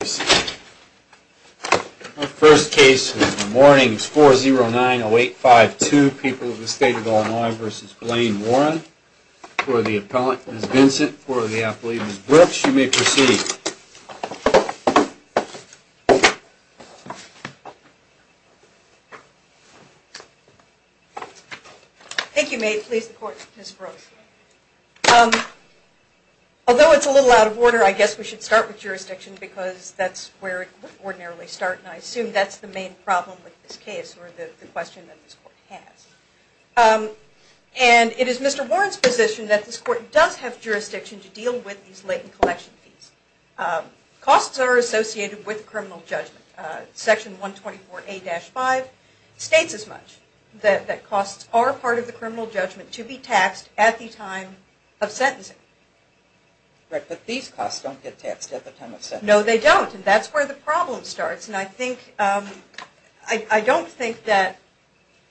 Our first case this morning is 4-0-9-0-8-5-2, People of the State of Illinois v. Blaine Warren. For the appellant, Ms. Vincent. For the applicant, Ms. Brooks. You may proceed. Ms. Brooks Thank you. May it please the Court, Ms. Brooks. Although it's a little out of order, I guess we should start with jurisdiction because that's where it would ordinarily start and I assume that's the main problem with this case or the question that this Court has. And it is Mr. Warren's position that this Court does have jurisdiction to deal with these latent collection fees. Costs are associated with criminal judgment. Section 124A-5 states as much that costs are part of the criminal judgment to be taxed at the time of sentencing. But these costs don't get taxed at the time of sentencing. Ms. Brooks No, they don't. And that's where the problem starts. And I think, I don't think that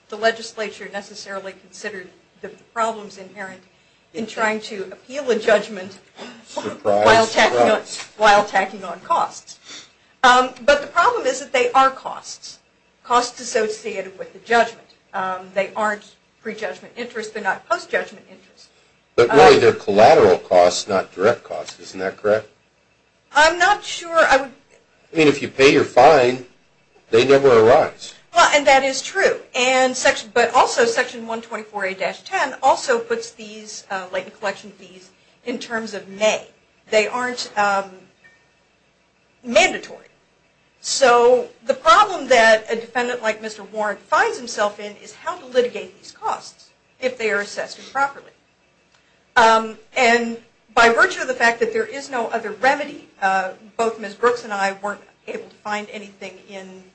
the legislature necessarily considered the problems inherent in trying to appeal a judgment while tacking on costs. But the problem is that they are costs. Costs associated with the judgment. They aren't prejudgment interest, they're not post-judgment interest. But really they're collateral costs, not direct costs. Isn't that correct? Ms. Brooks I'm not sure I would... Mr. Laird I mean, if you pay your fine, they never arise. Ms. Brooks Well, and that is true. But also Section 124A-10 also puts these latent collection fees in terms of may. They aren't mandatory. So the problem that a defendant like Mr. Warren finds himself in is how to litigate these costs if they are assessed improperly. And by virtue of the fact that there is no other remedy, both Ms. Brooks and I weren't able to find anything in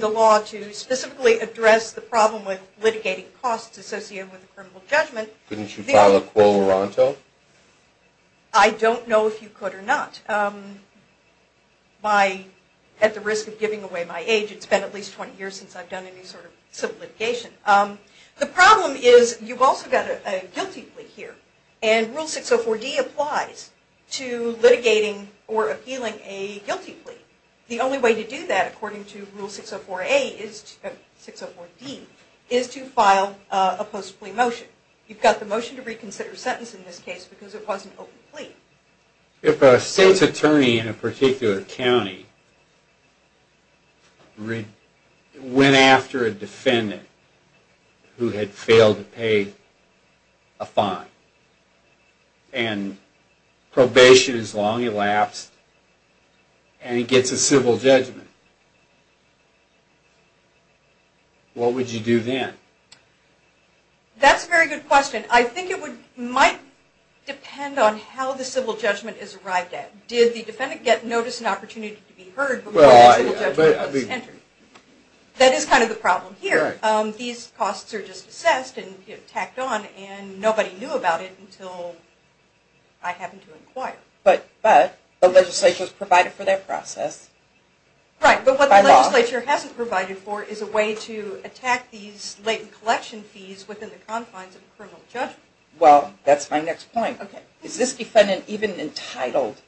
the law to specifically address the problem with litigating costs associated with a criminal judgment. Mr. Laird Couldn't you file a quo loranto? Ms. Brooks I don't know if you could or not. At the risk of giving away my age, it's been at least 20 years since I've done any sort of civil litigation. The problem is you've also got a guilty plea here. And Rule 604D applies to litigating or appealing a guilty plea. The only way to do that according to Rule 604D is to file a post plea motion. You've got the motion to reconsider a sentence in this case because it was an open plea. If a state's attorney in a particular county went after a defendant who had failed to pay a fine and probation is long elapsed and he gets a civil judgment, what would you do then? Ms. Brooks That's a very good question. I think it might depend on how the civil judgment is arrived at. Did the defendant get notice and opportunity to be heard before the civil judgment was entered? That is kind of the problem here. These costs are just assessed and tacked on and nobody knew about it until I happened to inquire. Ms. Brooks But the legislature has provided for that process. Ms. Brooks Right, but what the legislature hasn't provided for is a way to attack these latent collection fees within the confines of a criminal judgment. Ms. Brooks Well, that's my next point. Is this defendant even entitled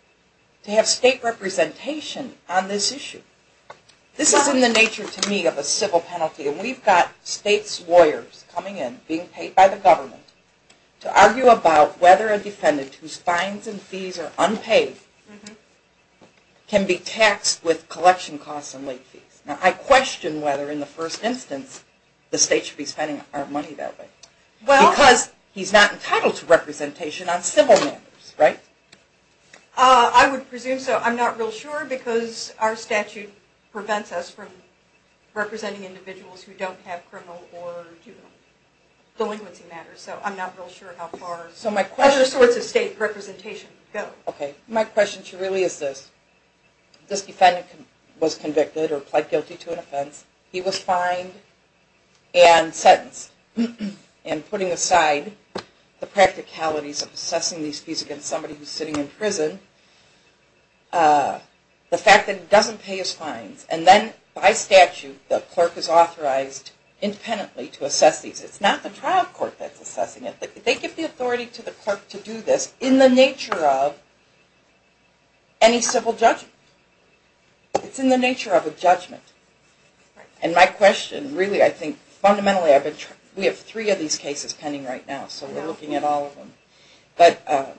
to have state representation on this issue? Ms. Brooks This is in the nature to me of a civil penalty and we've got state lawyers coming in, being paid by the government, to argue about whether a defendant whose fines and fees are unpaid can be taxed with collection costs and late fees. Now I question whether in the first instance the state should be spending our money that way because he's not entitled to representation on civil matters, right? Ms. Brooks I would presume so. I'm not real sure because our statute prevents us from representing individuals who don't have criminal or delinquency matters. So I'm not real sure how far other sorts of state representation go. Ms. Brooks Okay, my question to you really is this. This defendant was convicted or pled guilty to an offense. He was fined and sentenced. And putting aside the practicalities of assessing these fees against somebody who's sitting in prison, the fact that he doesn't pay his fines and then by statute the clerk is authorized independently to assess these. It's not the trial court that's assessing it. They give the authority to the clerk to do this in the nature of any civil judgment. It's in the nature of a judgment. And my question really I think fundamentally we have three of these cases pending right now so we're looking at all of them. But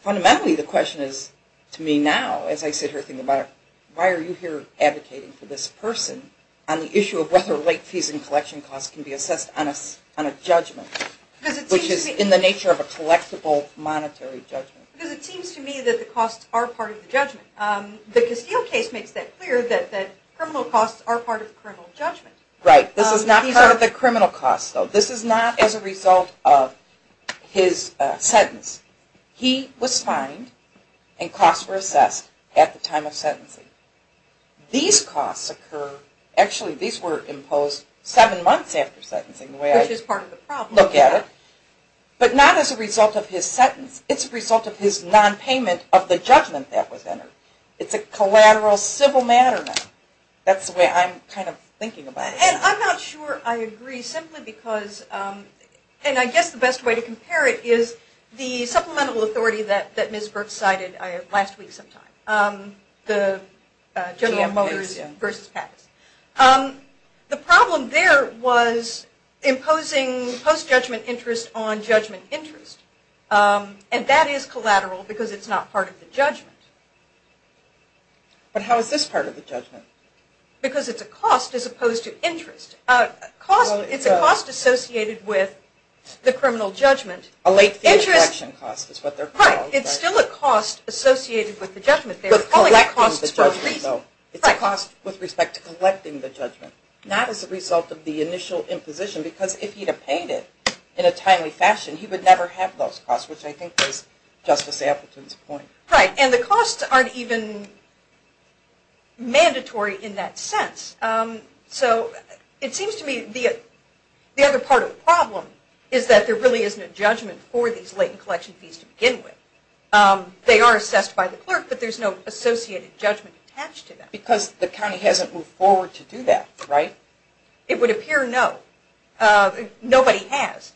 fundamentally the question is to me now as I sit here thinking about it, why are you here advocating for this person on the issue of whether late fees and collection costs can be assessed on a judgment which is in the nature of a collectible monetary judgment? Because it seems to me that the costs are part of the judgment. The Castile case makes that clear that criminal costs are part of criminal judgment. Right, this is not part of the criminal costs though. This is not as a result of his sentence. He was fined and costs were assessed at the time of sentencing. These costs occur, actually these were imposed seven months after sentencing. Which is part of the problem. But not as a result of his sentence. It's a result of his non-payment of the judgment that was entered. It's a collateral civil matter now. That's the way I'm kind of thinking about it. And I'm not sure I agree simply because, and I guess the best way to compare it is the supplemental authority that Ms. Burke cited last week sometime. The General Motors v. Pattis. The problem there was imposing post-judgment interest on judgment interest. And that is collateral because it's not part of the judgment. But how is this part of the judgment? Because it's a cost as opposed to interest. It's a cost associated with the criminal judgment. A late fee and collection cost is what they're called. Right, it's still a cost associated with the judgment. But collecting the judgment though. It's a cost with respect to collecting the judgment. Not as a result of the initial imposition because if he'd have paid it in a timely fashion he would never have those costs, which I think is Justice Appleton's point. Right, and the costs aren't even mandatory in that sense. So it seems to me the other part of the problem is that there really isn't a judgment for these late and collection fees to begin with. They are assessed by the clerk but there's no associated judgment attached to them. Because the county hasn't moved forward to do that, right? It would appear no. Nobody has.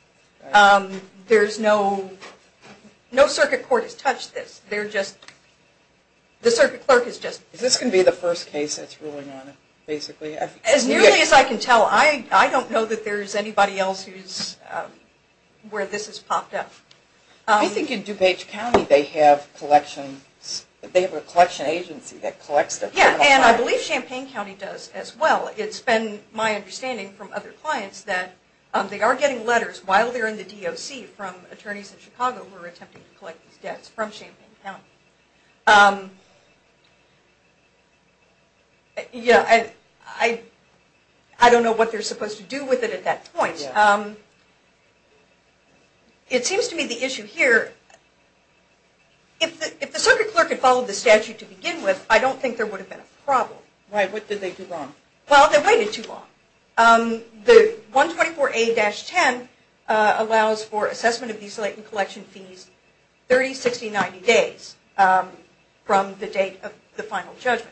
There's no, no circuit court has touched this. They're just, the circuit clerk is just. Is this going to be the first case that's ruling on it basically? As nearly as I can tell. I don't know that there's anybody else who's, where this has popped up. I think in DuPage County they have collections, they have a collection agency that collects them. Yeah, and I believe Champaign County does as well. It's been my understanding from other clients that they are getting letters while they're in the DOC from attorneys in Chicago who are attempting to collect these debts from Champaign County. Yeah, I don't know what they're supposed to do with it at that point. It seems to me the issue here, if the circuit clerk had followed the statute to begin with, I don't think there would have been a problem. Right, what did they do wrong? Well, they waited too long. The 124A-10 allows for assessment of these late and collection fees 30, 60, 90 days from the date of the final judgment.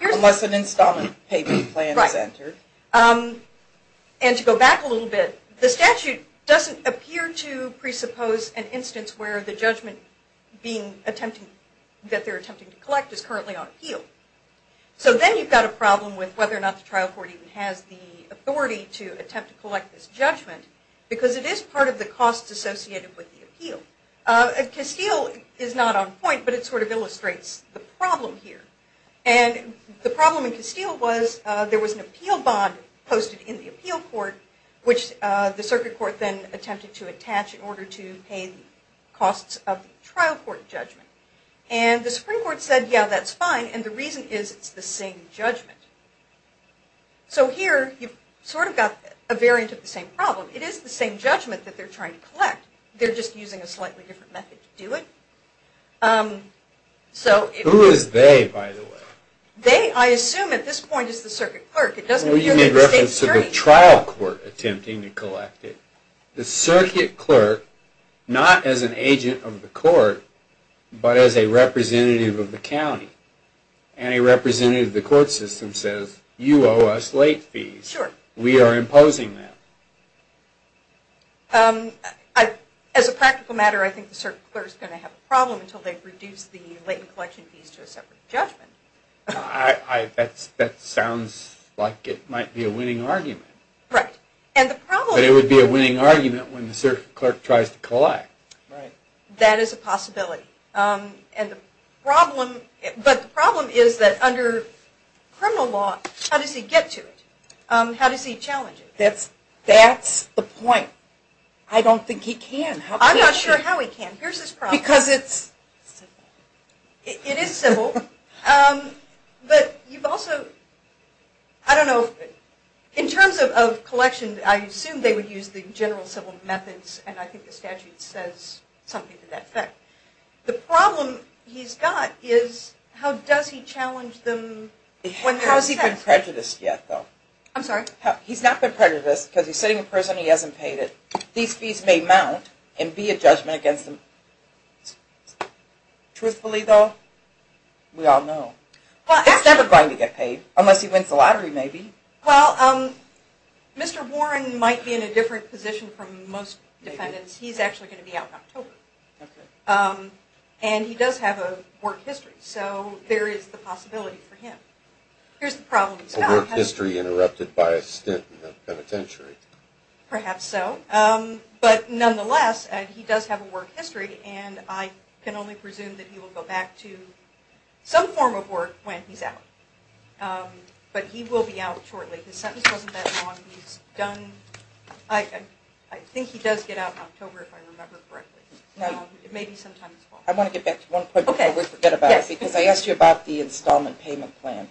Unless an installment payment plan is entered. Right, and to go back a little bit, the statute doesn't appear to presuppose an instance where the judgment that they're attempting to collect is currently on appeal. So then you've got a problem with whether or not the trial court even has the authority to attempt to collect this judgment because it is part of the costs associated with the appeal. Castile is not on point, but it sort of illustrates the problem here. And the problem in Castile was there was an appeal bond posted in the appeal court, which the circuit court then attempted to attach in order to pay the costs of the trial court judgment. And the Supreme Court said, yeah, that's fine, and the reason is it's the same judgment. So here you've sort of got a variant of the same problem. It is the same judgment that they're trying to collect, they're just using a slightly different method to do it. Who is they, by the way? They, I assume at this point, is the circuit clerk. Well, you mean in reference to the trial court attempting to collect it. The circuit clerk, not as an agent of the court, but as a representative of the county. And a representative of the court system says, you owe us late fees. We are imposing that. As a practical matter, I think the circuit clerk is going to have a problem until they've reduced the latent collection fees to a separate judgment. That sounds like it might be a winning argument. Right. But it would be a winning argument when the circuit clerk tries to collect. That is a possibility. But the problem is that under criminal law, how does he get to it? How does he challenge it? That's the point. I don't think he can. I'm not sure how he can. Here's his problem. Because it's simple. It is simple. But you've also, I don't know, in terms of collection, I assume they would use the general civil methods, and I think the statute says something to that effect. The problem he's got is, how does he challenge them? How has he been prejudiced yet, though? I'm sorry? He's not been prejudiced because he's sitting in prison, he hasn't paid it. These fees may mount and be a judgment against him. Truthfully, though, we all know. It's never going to get paid, unless he wins the lottery, maybe. Well, Mr. Warren might be in a different position from most defendants. He's actually going to be out in October. And he does have a work history, so there is the possibility for him. Here's the problem he's got. A work history interrupted by a stint in the penitentiary. Perhaps so. But nonetheless, he does have a work history, and I can only presume that he will go back to some form of work when he's out. But he will be out shortly. His sentence wasn't that long. I think he does get out in October, if I remember correctly. Maybe sometime this fall. I want to get back to one point before we forget about it, because I asked you about the installment payment plan.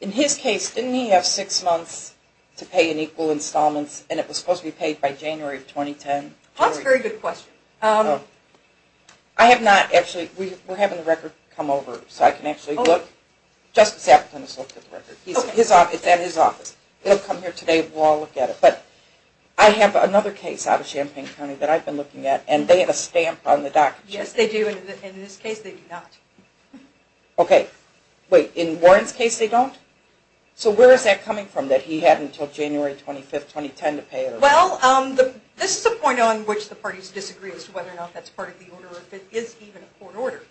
In his case, didn't he have six months to pay in equal installments, and it was supposed to be paid by January of 2010? That's a very good question. I have not actually. We're having the record come over, so I can actually look. Justice Appleton has looked at the record. It's at his office. It will come here today, and we'll all look at it. But I have another case out of Champaign County that I've been looking at, and they have a stamp on the document. Yes, they do. And in this case, they do not. Okay. Wait. In Warren's case, they don't? So where is that coming from, that he had until January 25, 2010 to pay? Well, this is a point on which the parties disagree as to whether or not that's part of the order or if it is even a court order.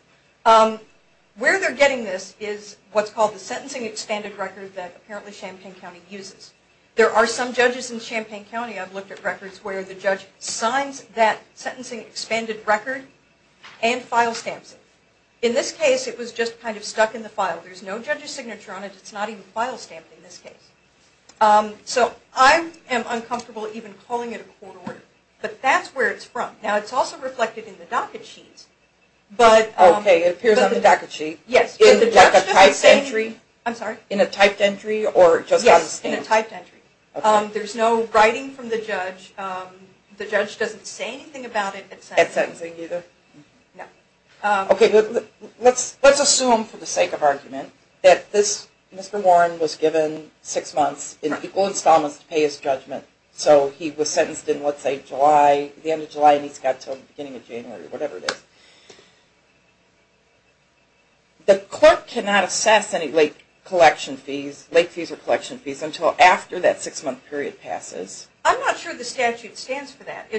Where they're getting this is what's called the sentencing expanded record that apparently Champaign County uses. There are some judges in Champaign County I've looked at records where the judge signs that sentencing expanded record and file stamps it. In this case, it was just kind of stuck in the file. There's no judge's signature on it. It's not even file stamped in this case. So I am uncomfortable even calling it a court order. But that's where it's from. Now, it's also reflected in the docket sheets. Okay. It appears on the docket sheet. Yes. In a typed entry? I'm sorry? In a typed entry or just on the stamp? Yes, in a typed entry. There's no writing from the judge. The judge doesn't say anything about it at sentencing. At sentencing either? No. Okay. Let's assume for the sake of argument that Mr. Warren was given six months in equal installments to pay his judgment. So he was sentenced in, let's say, July, the end of July, and he's got until the beginning of January or whatever it is. The court cannot assess any late collection fees, late fees or collection fees, until after that six-month period passes. I'm not sure the statute stands for that.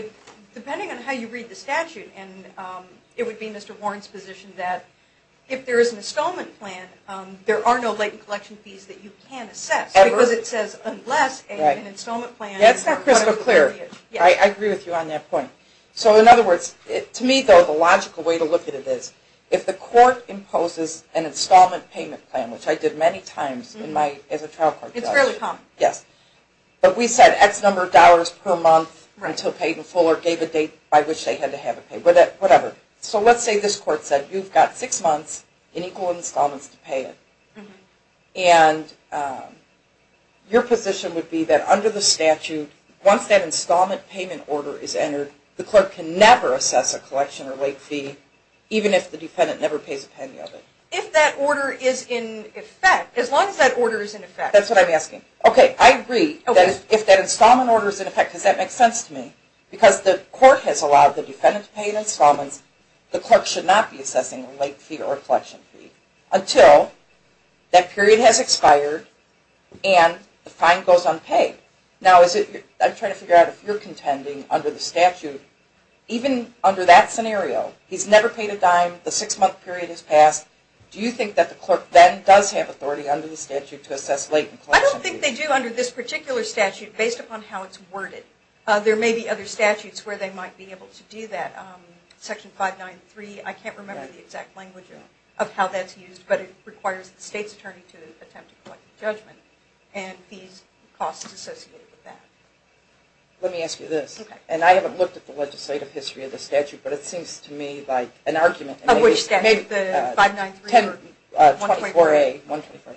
Depending on how you read the statute, and it would be Mr. Warren's position that if there is an installment plan, there are no late collection fees that you can assess. Ever? Because it says unless an installment plan is required. That's not crystal clear. I agree with you on that point. So, in other words, to me, though, the logical way to look at it is if the court imposes an installment payment plan, which I did many times as a trial court judge. It's fairly common. Yes. But we said X number of dollars per month until paid in full or gave a date by which they had to have it paid, whatever. So let's say this court said you've got six months in equal installments to pay it. And your position would be that under the statute, once that installment payment order is entered, the clerk can never assess a collection or late fee, even if the defendant never pays a penny of it. If that order is in effect, as long as that order is in effect. That's what I'm asking. Okay, I agree that if that installment order is in effect, because that makes sense to me, because the court has allowed the defendant to pay an installment, the clerk should not be assessing a late fee or a collection fee until that period has expired and the fine goes unpaid. Now, I'm trying to figure out if you're contending under the statute, even under that scenario, he's never paid a dime, the six-month period has passed, do you think that the clerk then does have authority under the statute to assess late and collection fees? I don't think they do under this particular statute, based upon how it's worded. There may be other statutes where they might be able to do that. Section 593, I can't remember the exact language of how that's used, but it requires the state's attorney to attempt a collective judgment and fees and costs associated with that. Let me ask you this. Okay. And I haven't looked at the legislative history of the statute, but it seems to me like an argument. Which statute? 593 or 124A? 124A.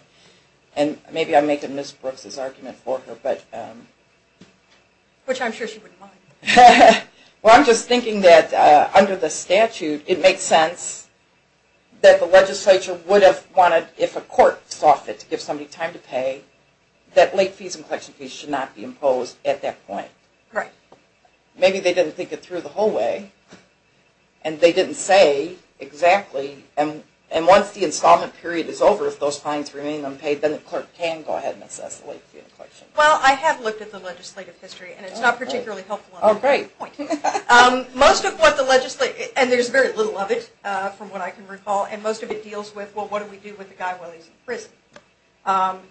And maybe I'm making Ms. Brooks' argument for her. Which I'm sure she wouldn't mind. Well, I'm just thinking that under the statute, it makes sense that the legislature would have wanted, if a court saw fit to give somebody time to pay, that late fees and collection fees should not be imposed at that point. Right. Maybe they didn't think it through the whole way, and they didn't say exactly, and once the installment period is over, if those fines remain unpaid, then the clerk can go ahead and assess the late fee and collection. Well, I have looked at the legislative history, and it's not particularly helpful on that point. Most of what the legislature, and there's very little of it from what I can recall, and most of it deals with, well, what do we do with the guy while he's in prison?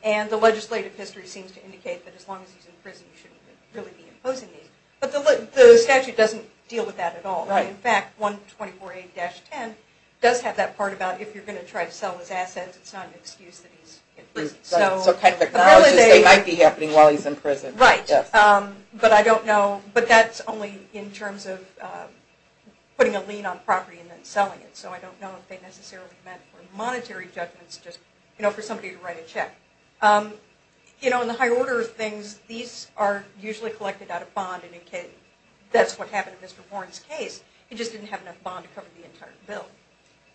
And the legislative history seems to indicate that as long as he's in prison, you shouldn't really be imposing these. But the statute doesn't deal with that at all. In fact, 124A-10 does have that part about if you're going to try to sell his assets, it's not an excuse that he's in prison. So kind of acknowledges that it might be happening while he's in prison. Right. But I don't know, but that's only in terms of putting a lien on property and then selling it. So I don't know if they necessarily meant for monetary judgments, just for somebody to write a check. In the higher order of things, these are usually collected out of bond, and that's what happened in Mr. Warren's case. He just didn't have enough bond to cover the entire bill.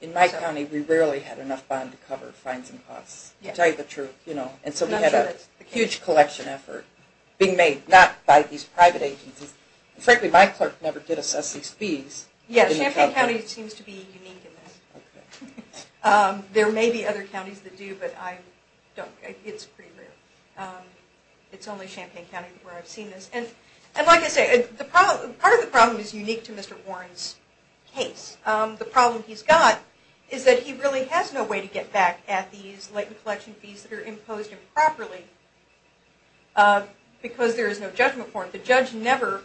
In my county, we rarely had enough bond to cover fines and costs, to tell you the truth. And so we had a huge collection effort being made, not by these private agencies. Frankly, my clerk never did assess these fees. Yes, Champaign County seems to be unique in this. There may be other counties that do, but it's pretty rare. It's only Champaign County where I've seen this. And like I say, part of the problem is unique to Mr. Warren's case. The problem he's got is that he really has no way to get back at these late inflection fees that are imposed improperly, because there is no judgment form. The judge never,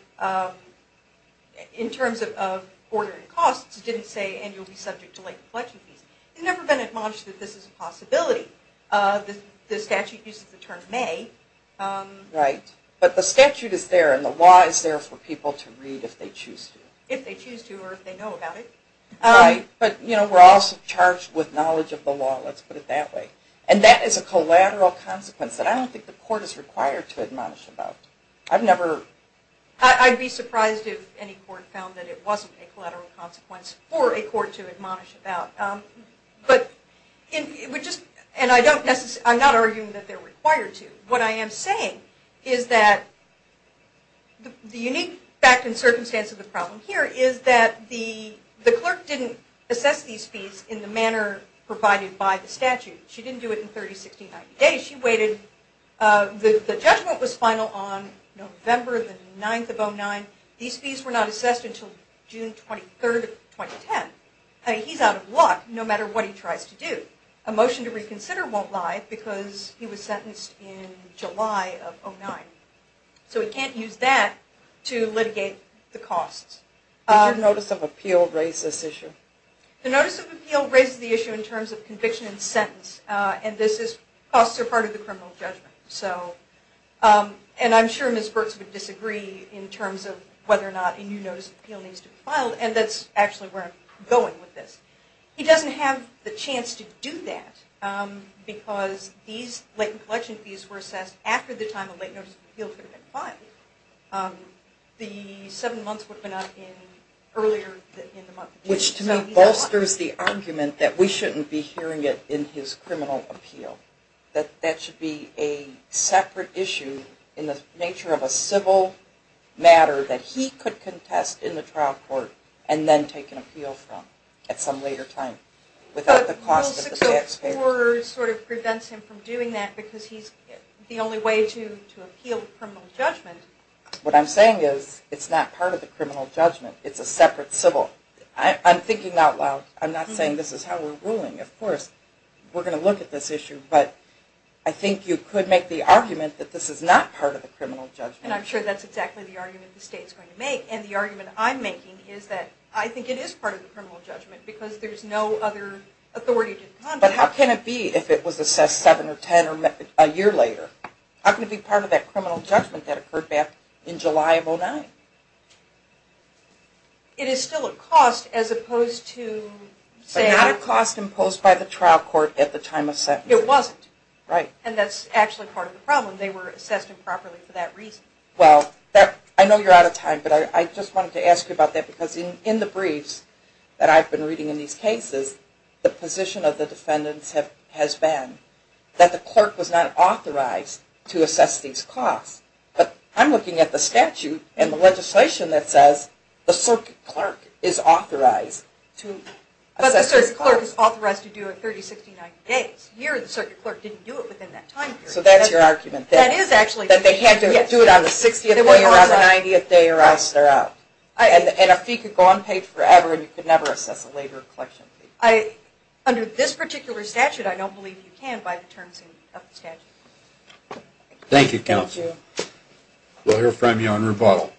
in terms of ordering costs, didn't say, and you'll be subject to late inflection fees. He's never been admonished that this is a possibility. The statute uses the term may. Right. But the statute is there, and the law is there for people to read if they choose to. If they choose to, or if they know about it. Right. But we're also charged with knowledge of the law, let's put it that way. And that is a collateral consequence that I don't think the court is required to admonish about. I've never... I'd be surprised if any court found that it wasn't a collateral consequence for a court to admonish about. And I'm not arguing that they're required to. What I am saying is that the unique fact and circumstance of the case is that the clerk didn't assess these fees in the manner provided by the statute. She didn't do it in 30, 60, 90 days. She waited. The judgment was final on November the 9th of 09. These fees were not assessed until June 23rd of 2010. He's out of luck, no matter what he tries to do. A motion to reconsider won't lie, because he was sentenced in July of 09. So we can't use that to litigate the costs. Did your Notice of Appeal raise this issue? The Notice of Appeal raises the issue in terms of conviction and sentence. And costs are part of the criminal judgment. And I'm sure Ms. Burtz would disagree in terms of whether or not a new Notice of Appeal needs to be filed, and that's actually where I'm going with this. He doesn't have the chance to do that, because these latent collection fees were assessed after the time a late Notice of Appeal should have been filed. The seven months would have been out earlier in the month. Which to me bolsters the argument that we shouldn't be hearing it in his criminal appeal. That that should be a separate issue in the nature of a civil matter that he could contest in the trial court and then take an appeal from at some later time without the cost of the taxpayers. Rule 604 sort of prevents him from doing that, because he's the only way to appeal the criminal judgment. What I'm saying is it's not part of the criminal judgment. It's a separate civil. I'm thinking out loud. I'm not saying this is how we're ruling. Of course, we're going to look at this issue. But I think you could make the argument that this is not part of the criminal judgment. And I'm sure that's exactly the argument the state's going to make. And the argument I'm making is that I think it is part of the criminal judgment, because there's no other authority to contest it. But how can it be if it was assessed 7 or 10 or a year later? How can it be part of that criminal judgment that occurred back in July of 2009? It is still a cost as opposed to saying... But not a cost imposed by the trial court at the time of sentencing. It wasn't. Right. And that's actually part of the problem. They were assessed improperly for that reason. Well, I know you're out of time, but I just wanted to ask you about that, because in the briefs that I've been reading in these cases, the position of the defendants has been that the clerk was not authorized to assess these costs. But I'm looking at the statute and the legislation that says the circuit clerk is authorized to assess these costs. But the circuit clerk is authorized to do it 30, 60, 90 days. Here, the circuit clerk didn't do it within that time period. So that's your argument. That is actually... That they had to do it on the 60th day or on the 90th day or else they're out. And a fee could go unpaid forever and you could never assess a later collection fee. Under this particular statute, I don't believe you can by the terms of the statute. Thank you, Counsel. Thank you. We'll hear from you on rebuttal.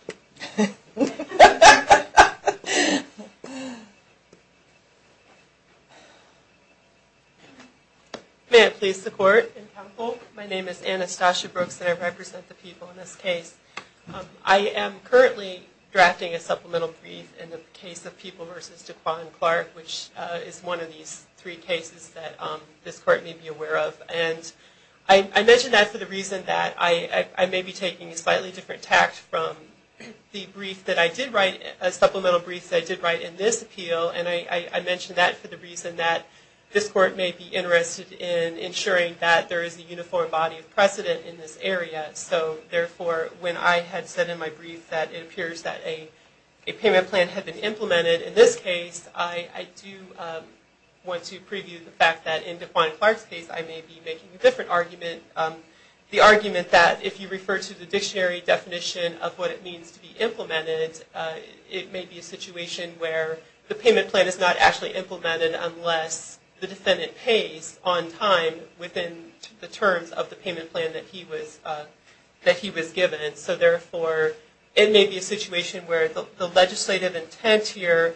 May I please support and counsel? My name is Anastasia Brooks and I represent the people in this case. I am currently drafting a supplemental brief in the case of People v. Dequan Clark, which is one of these three cases that this court may be aware of. And I mention that for the reason that I may be taking a slightly different tact from the brief that I did write, a supplemental brief that I did write in this appeal. And I mention that for the reason that this court may be interested in ensuring that there is a uniform body of precedent in this area. So, therefore, when I had said in my brief that it appears that a payment plan had been implemented in this case, I do want to preview the fact that in Dequan Clark's case I may be making a different argument. The argument that if you refer to the dictionary definition of what it means to be implemented, it may be a situation where the payment plan is not actually implemented unless the defendant pays on time within the terms of the payment plan that he was given. So, therefore, it may be a situation where the legislative intent here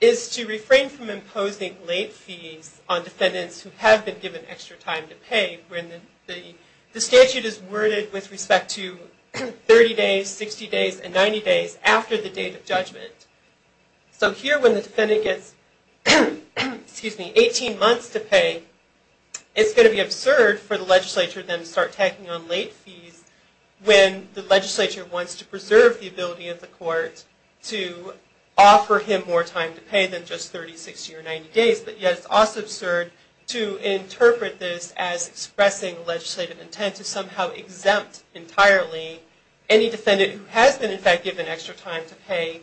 is to refrain from imposing late fees on defendants who have been given extra time to pay when the statute is worded with respect to 30 days, 60 days, and 90 days after the date of judgment. So here when the defendant gets 18 months to pay, it's going to be absurd for the legislature then to start tacking on late fees when the legislature wants to preserve the ability of the court to offer him more time to pay than just 30, 60, or 90 days. But yet it's also absurd to interpret this as expressing legislative intent to somehow exempt entirely any defendant who has been, in fact, given extra time to pay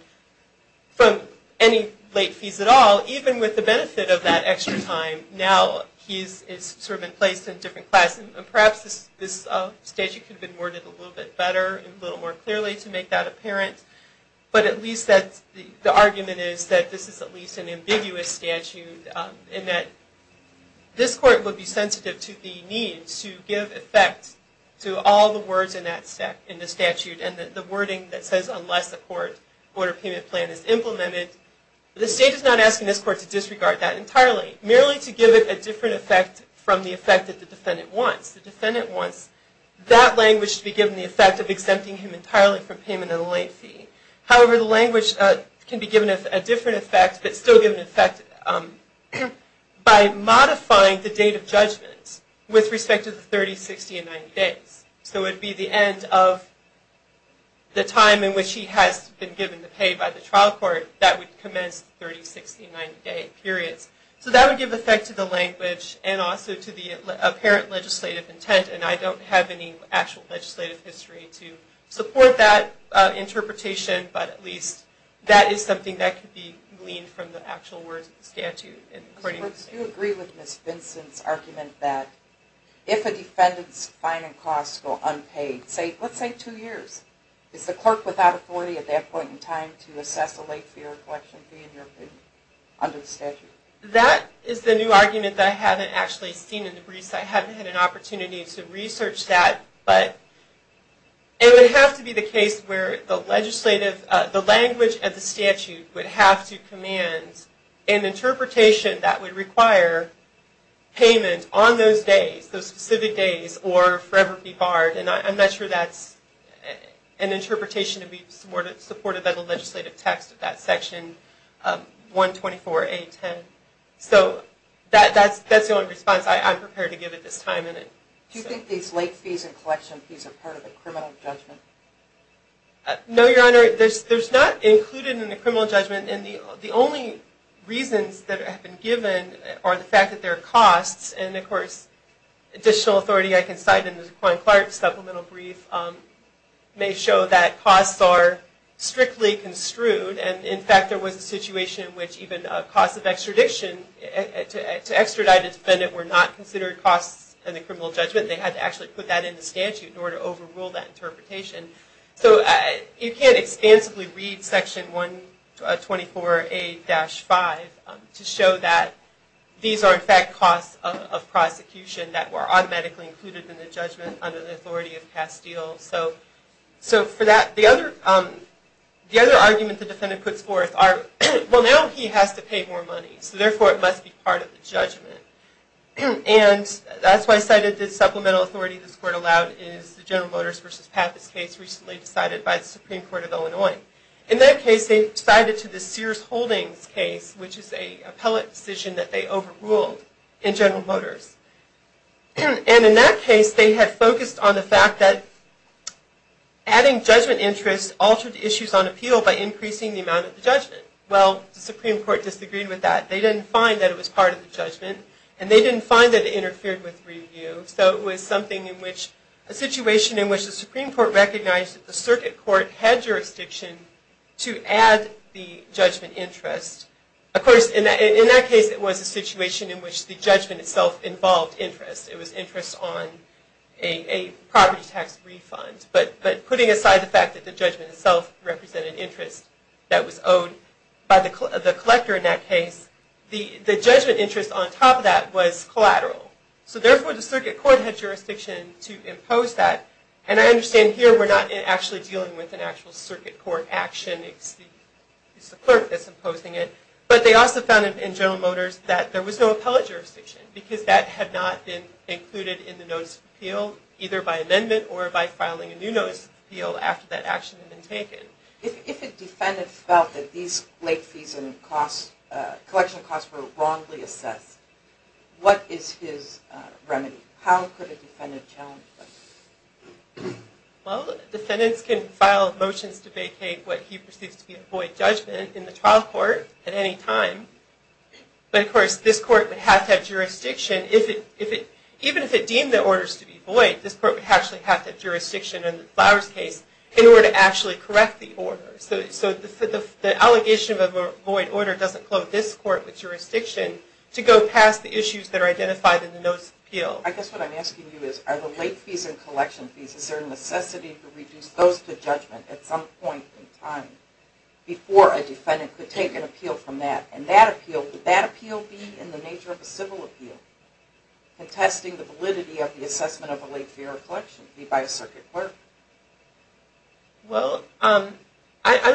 from any late fees at all, even with the benefit of that extra time. Now it's sort of in place in a different class. Perhaps this statute could have been worded a little bit better, a little more clearly to make that apparent. But at least the argument is that this is at least an ambiguous statute in that this court would be sensitive to the need to give effect to all the words in the statute and the wording that says unless the court order payment plan is implemented. The state is not asking this court to disregard that entirely, merely to give it a different effect from the effect that the defendant wants. The defendant wants that language to be given the effect of exempting him entirely from payment of the late fee. However, the language can be given a different effect, but still give an effect by modifying the date of judgment with respect to the 30, 60, and 90 days. So it would be the end of the time in which he has been given the pay by the court and that would commence the 30, 60, and 90 day periods. So that would give effect to the language and also to the apparent legislative intent. And I don't have any actual legislative history to support that interpretation, but at least that is something that could be gleaned from the actual words of the statute. Do you agree with Ms. Vinson's argument that if a defendant's fine and costs go unpaid, let's say two years, is the court without authority at that point in time to assess the late fee or collection fee in your opinion under the statute? That is the new argument that I haven't actually seen in the briefs. I haven't had an opportunity to research that, but it would have to be the case where the legislative, the language of the statute would have to command an interpretation that would require payment on those days, those specific days, or forever be barred. And I'm not sure that's an interpretation to be supported by the legislative text of that section 124A10. So that's the only response I'm prepared to give at this time. Do you think these late fees and collection fees are part of the criminal judgment? No, Your Honor. There's not included in the criminal judgment. And the only reasons that have been given are the fact that there are costs and, of course, additional authority I can cite in the Dequan Clark supplemental brief may show that costs are strictly construed. And, in fact, there was a situation in which even costs of extradition to extradite a defendant were not considered costs in the criminal judgment. They had to actually put that in the statute in order to overrule that interpretation. So you can't expansively read Section 124A-5 to show that these are, in fact, costs of prosecution that were automatically included in the judgment under the authority of Castile. So for that, the other argument the defendant puts forth are, well, now he has to pay more money. So, therefore, it must be part of the judgment. And that's why I cited the supplemental authority this Court allowed is the General Motors v. Pappas case recently decided by the Supreme Court of Illinois. In that case, they decided to the Sears Holdings case, which is an appellate decision that they overruled in General Motors. And in that case, they had focused on the fact that adding judgment interest altered issues on appeal by increasing the amount of the judgment. Well, the Supreme Court disagreed with that. They didn't find that it was part of the judgment, and they didn't find that it interfered with review. So it was something in which a situation in which the Supreme Court recognized that the circuit court had jurisdiction to add the judgment interest. Of course, in that case, it was a situation in which the judgment itself involved interest. It was interest on a property tax refund. But putting aside the fact that the judgment itself represented interest that was owed by the collector in that case, the judgment interest on top of that was collateral. So, therefore, the circuit court had jurisdiction to impose that. And I understand here we're not actually dealing with an actual circuit court action. It's the clerk that's imposing it. But they also found in General Motors that there was no appellate jurisdiction because that had not been included in the notice of appeal, either by amendment or by filing a new notice of appeal after that action had been taken. If a defendant felt that these late fees and collection costs were wrongly assessed, what is his remedy? How could a defendant challenge that? Well, defendants can file motions to vacate what he perceives to be a void judgment in the trial court at any time. But, of course, this court would have to have jurisdiction. Even if it deemed the orders to be void, this court would actually have to have jurisdiction in the Flowers case in order to actually correct the order. So the allegation of a void order doesn't clothe this court with jurisdiction to go past the issues that are identified in the notice of appeal. Well, I guess what I'm asking you is, are the late fees and collection fees, is there a necessity to reduce those to judgment at some point in time before a defendant could take an appeal from that? And that appeal, would that appeal be in the nature of a civil appeal contesting the validity of the assessment of a late fee or a collection paid by a circuit clerk? Well, I'm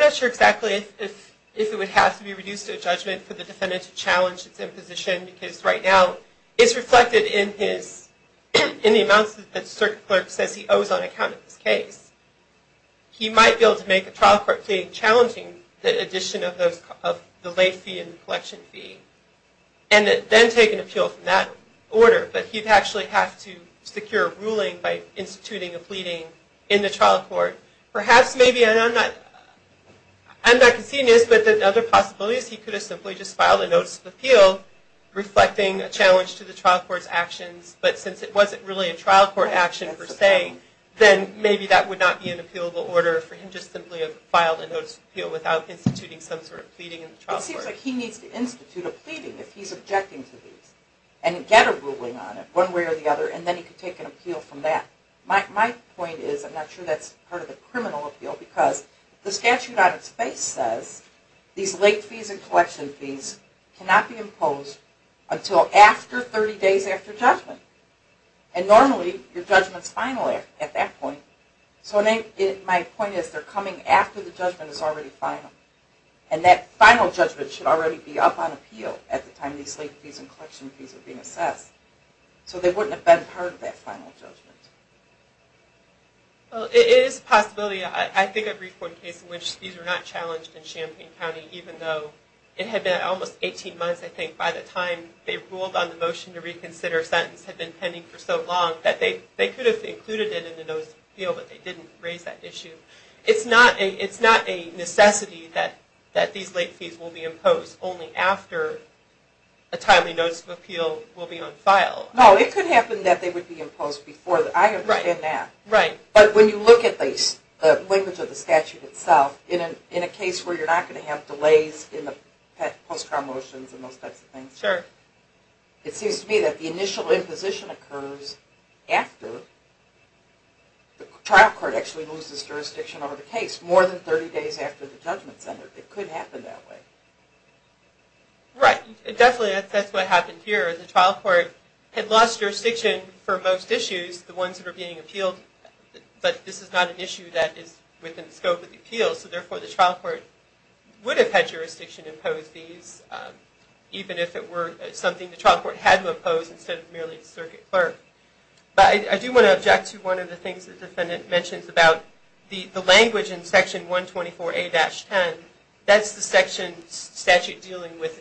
not sure exactly if it would have to be reduced to a judgment for the defendant to challenge its imposition because right now it's reflected in the amounts that the circuit clerk says he owes on account of his case. He might be able to make a trial court plea challenging the addition of the late fee and the collection fee and then take an appeal from that order. But he'd actually have to secure a ruling by instituting a pleading in the trial court. Perhaps maybe, and I'm not conceding this, but the other possibility is he could have simply just filed a notice of appeal reflecting a challenge to the trial court's actions, but since it wasn't really a trial court action per se, then maybe that would not be an appealable order for him to simply have filed a notice of appeal without instituting some sort of pleading in the trial court. It seems like he needs to institute a pleading if he's objecting to these and get a ruling on it one way or the other and then he can take an appeal from that. My point is, I'm not sure that's part of the criminal appeal because the statute on its face says these late fees and collection fees cannot be assessed until 30 days after judgment. And normally, your judgment's final at that point. So my point is, they're coming after the judgment is already final. And that final judgment should already be up on appeal at the time these late fees and collection fees are being assessed. So they wouldn't have been part of that final judgment. It is a possibility. I think I've briefed one case in which these were not challenged in Champaign County, even though it had been almost 18 months, I think, by the time they ruled on the motion to reconsider a sentence had been pending for so long that they could have included it in the notice of appeal, but they didn't raise that issue. It's not a necessity that these late fees will be imposed only after a timely notice of appeal will be on file. No, it could happen that they would be imposed before that. I understand that. Right. But when you look at the language of the statute itself, in a case where you're not going to have delays in the post-trial motions and those types of things, it seems to me that the initial imposition occurs after the trial court actually moves this jurisdiction over the case, more than 30 days after the judgment is under. It could happen that way. Right. Definitely, that's what happened here. The trial court had lost jurisdiction for most issues, the ones that were being appealed, but this is not an issue that is within the scope of the appeal, so therefore the trial court would have had jurisdiction to impose these, even if it were something the trial court had to impose instead of merely the circuit clerk. But I do want to object to one of the things the defendant mentions about the language in Section 124A-10. That's the section statute dealing with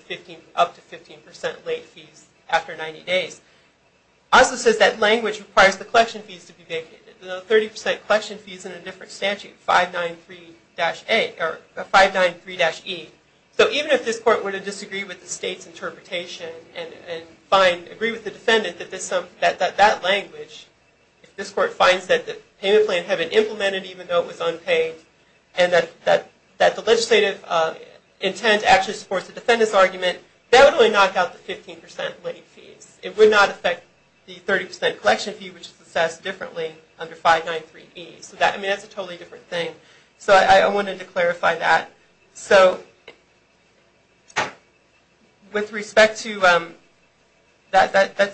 up to 15% late fees after 90 days. It also says that language requires the collection fees to be vacated, the 30% collection fees in a different statute, 593-A, or 593-E. So even if this court were to disagree with the state's interpretation and agree with the defendant that that language, if this court finds that the payment plan had been implemented even though it was unpaid, and that the legislative intent actually supports the defendant's argument, that would really knock out the 15% late fees. It would not affect the 30% collection fee, which is assessed differently under 593-E. So that's a totally different thing. So I wanted to clarify that. So with respect to that,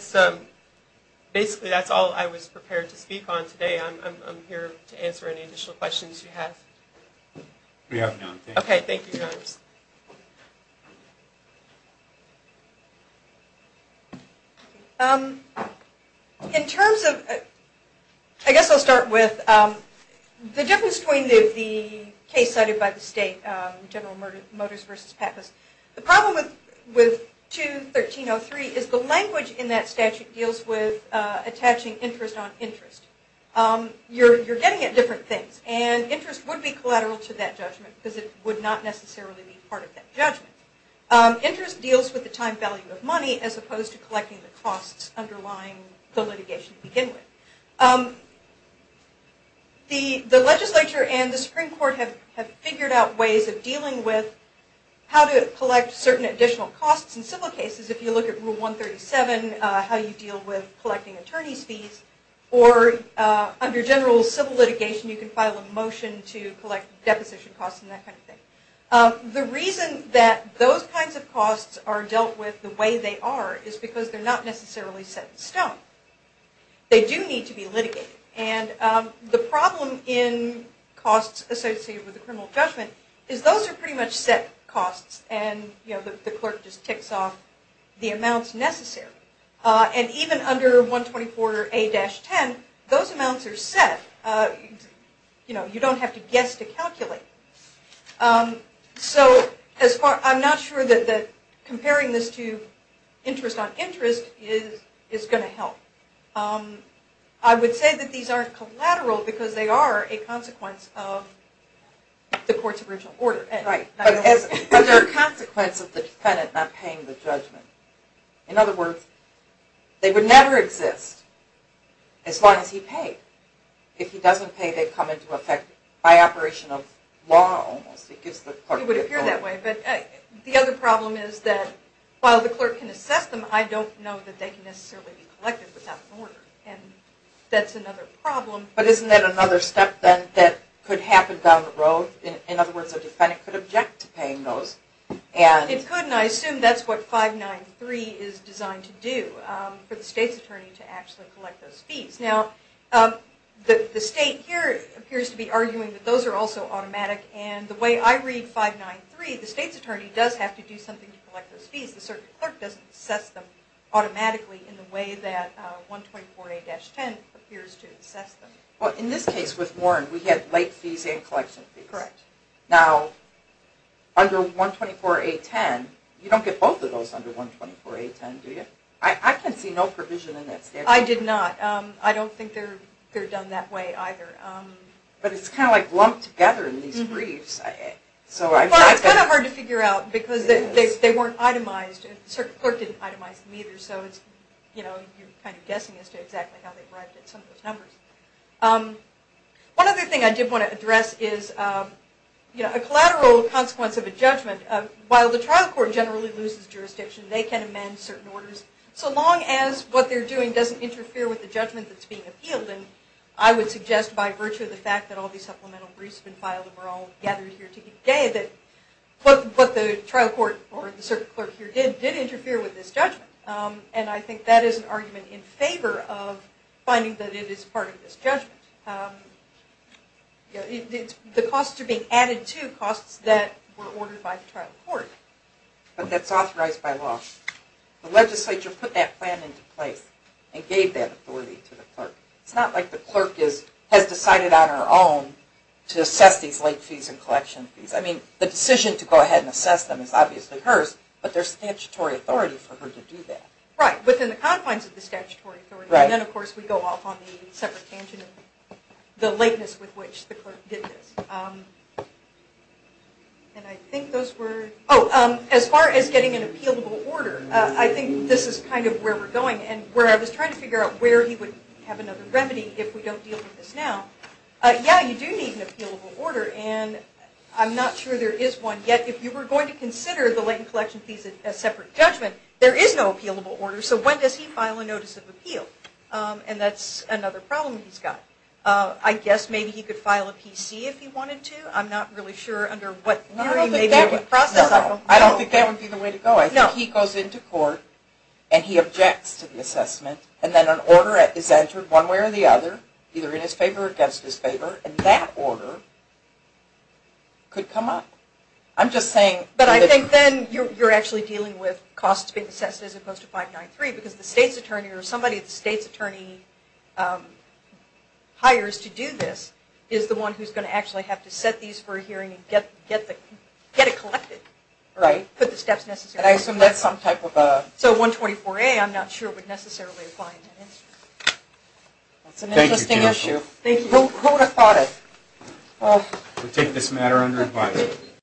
basically that's all I was prepared to speak on today. I'm here to answer any additional questions you have. We have none. Okay. Thank you, Your Honors. In terms of, I guess I'll start with the difference between the case cited by the state, General Motors v. Pappas. The problem with 213-03 is the language in that statute deals with attaching interest on interest. You're getting at different things. And interest would be collateral to that judgment because it would not necessarily be part of that judgment. Interest deals with the time value of money as opposed to collecting the costs underlying the litigation to begin with. The legislature and the Supreme Court have figured out ways of dealing with how to collect certain additional costs in civil cases. If you look at Rule 137, how you deal with collecting attorney's fees. Or under general civil litigation, you can file a motion to collect deposition costs and that kind of thing. The reason that those kinds of costs are dealt with the way they are is because they're not necessarily set in stone. They do need to be litigated. And the problem in costs associated with the criminal judgment is those are pretty much set costs and the clerk just ticks off the amounts necessary. And even under 124A-10, those amounts are set. You don't have to guess to calculate. So I'm not sure that comparing this to interest on interest is going to help. I would say that these aren't collateral because they are a consequence of the court's original order. Right. But they're a consequence of the defendant not paying the judgment. In other words, they would never exist as long as he paid. If he doesn't pay, they come into effect by operation of law almost. It would appear that way. But the other problem is that while the clerk can assess them, I don't know that they can necessarily be collected without an order. And that's another problem. But isn't that another step then that could happen down the road? In other words, a defendant could object to paying those. It could, and I assume that's what 593 is designed to do, for the state's attorney to actually collect those fees. Now, the state here appears to be arguing that those are also automatic. And the way I read 593, the state's attorney does have to do something to collect those fees. The clerk doesn't assess them automatically in the way that 124A-10 appears to assess them. In this case with Warren, we had late fees and collection fees. Correct. Now, under 124A-10, you don't get both of those under 124A-10, do you? I can see no provision in that statute. I did not. I don't think they're done that way either. But it's kind of like lumped together in these briefs. Well, it's kind of hard to figure out because they weren't itemized. The clerk didn't itemize them either, so you're kind of guessing as to exactly how they arrived at some of those numbers. One other thing I did want to address is a collateral consequence of a judgment. While the trial court generally loses jurisdiction, they can amend certain orders, so long as what they're doing doesn't interfere with the judgment that's being appealed. I would suggest by virtue of the fact that all these supplemental briefs have been filed and we're all gathered here today, that what the trial court or the clerk here did, did interfere with this judgment. I think that is an argument in favor of finding that it is part of this judgment. The costs are being added to costs that were ordered by the trial court. But that's authorized by law. The legislature put that plan into place and gave that authority to the clerk. It's not like the clerk has decided on her own to assess these late fees and collection fees. I mean, the decision to go ahead and assess them is obviously hers, but there's statutory authority for her to do that. Right. Within the confines of the statutory authority. Then, of course, we go off on the separate tangent of the lateness with which the clerk did this. And I think those were... Oh, as far as getting an appealable order, I think this is kind of where we're going and where I was trying to figure out where he would have another remedy if we don't deal with this now. Yeah, you do need an appealable order, and I'm not sure there is one. Yet, if you were going to consider the latent collection fees as separate judgment, there is no appealable order. So when does he file a notice of appeal? And that's another problem he's got. I guess maybe he could file a PC if he wanted to. I'm not really sure under what theory. No, I don't think that would be the way to go. I think he goes into court and he objects to the assessment, and then an order is entered one way or the other, either in his favor or against his favor, and that order could come up. I'm just saying... But I think then you're actually dealing with costs being assessed as opposed to 593 because the state's attorney or somebody at the state's attorney hires to do this is the one who's going to actually have to set these for a hearing and get it collected. Right. Put the steps necessary. And I assume that's some type of a... So 124A I'm not sure would necessarily apply in that instance. That's an interesting issue. Thank you, Jennifer. Thank you. Who would have thought it? We'll take this matter under advisory.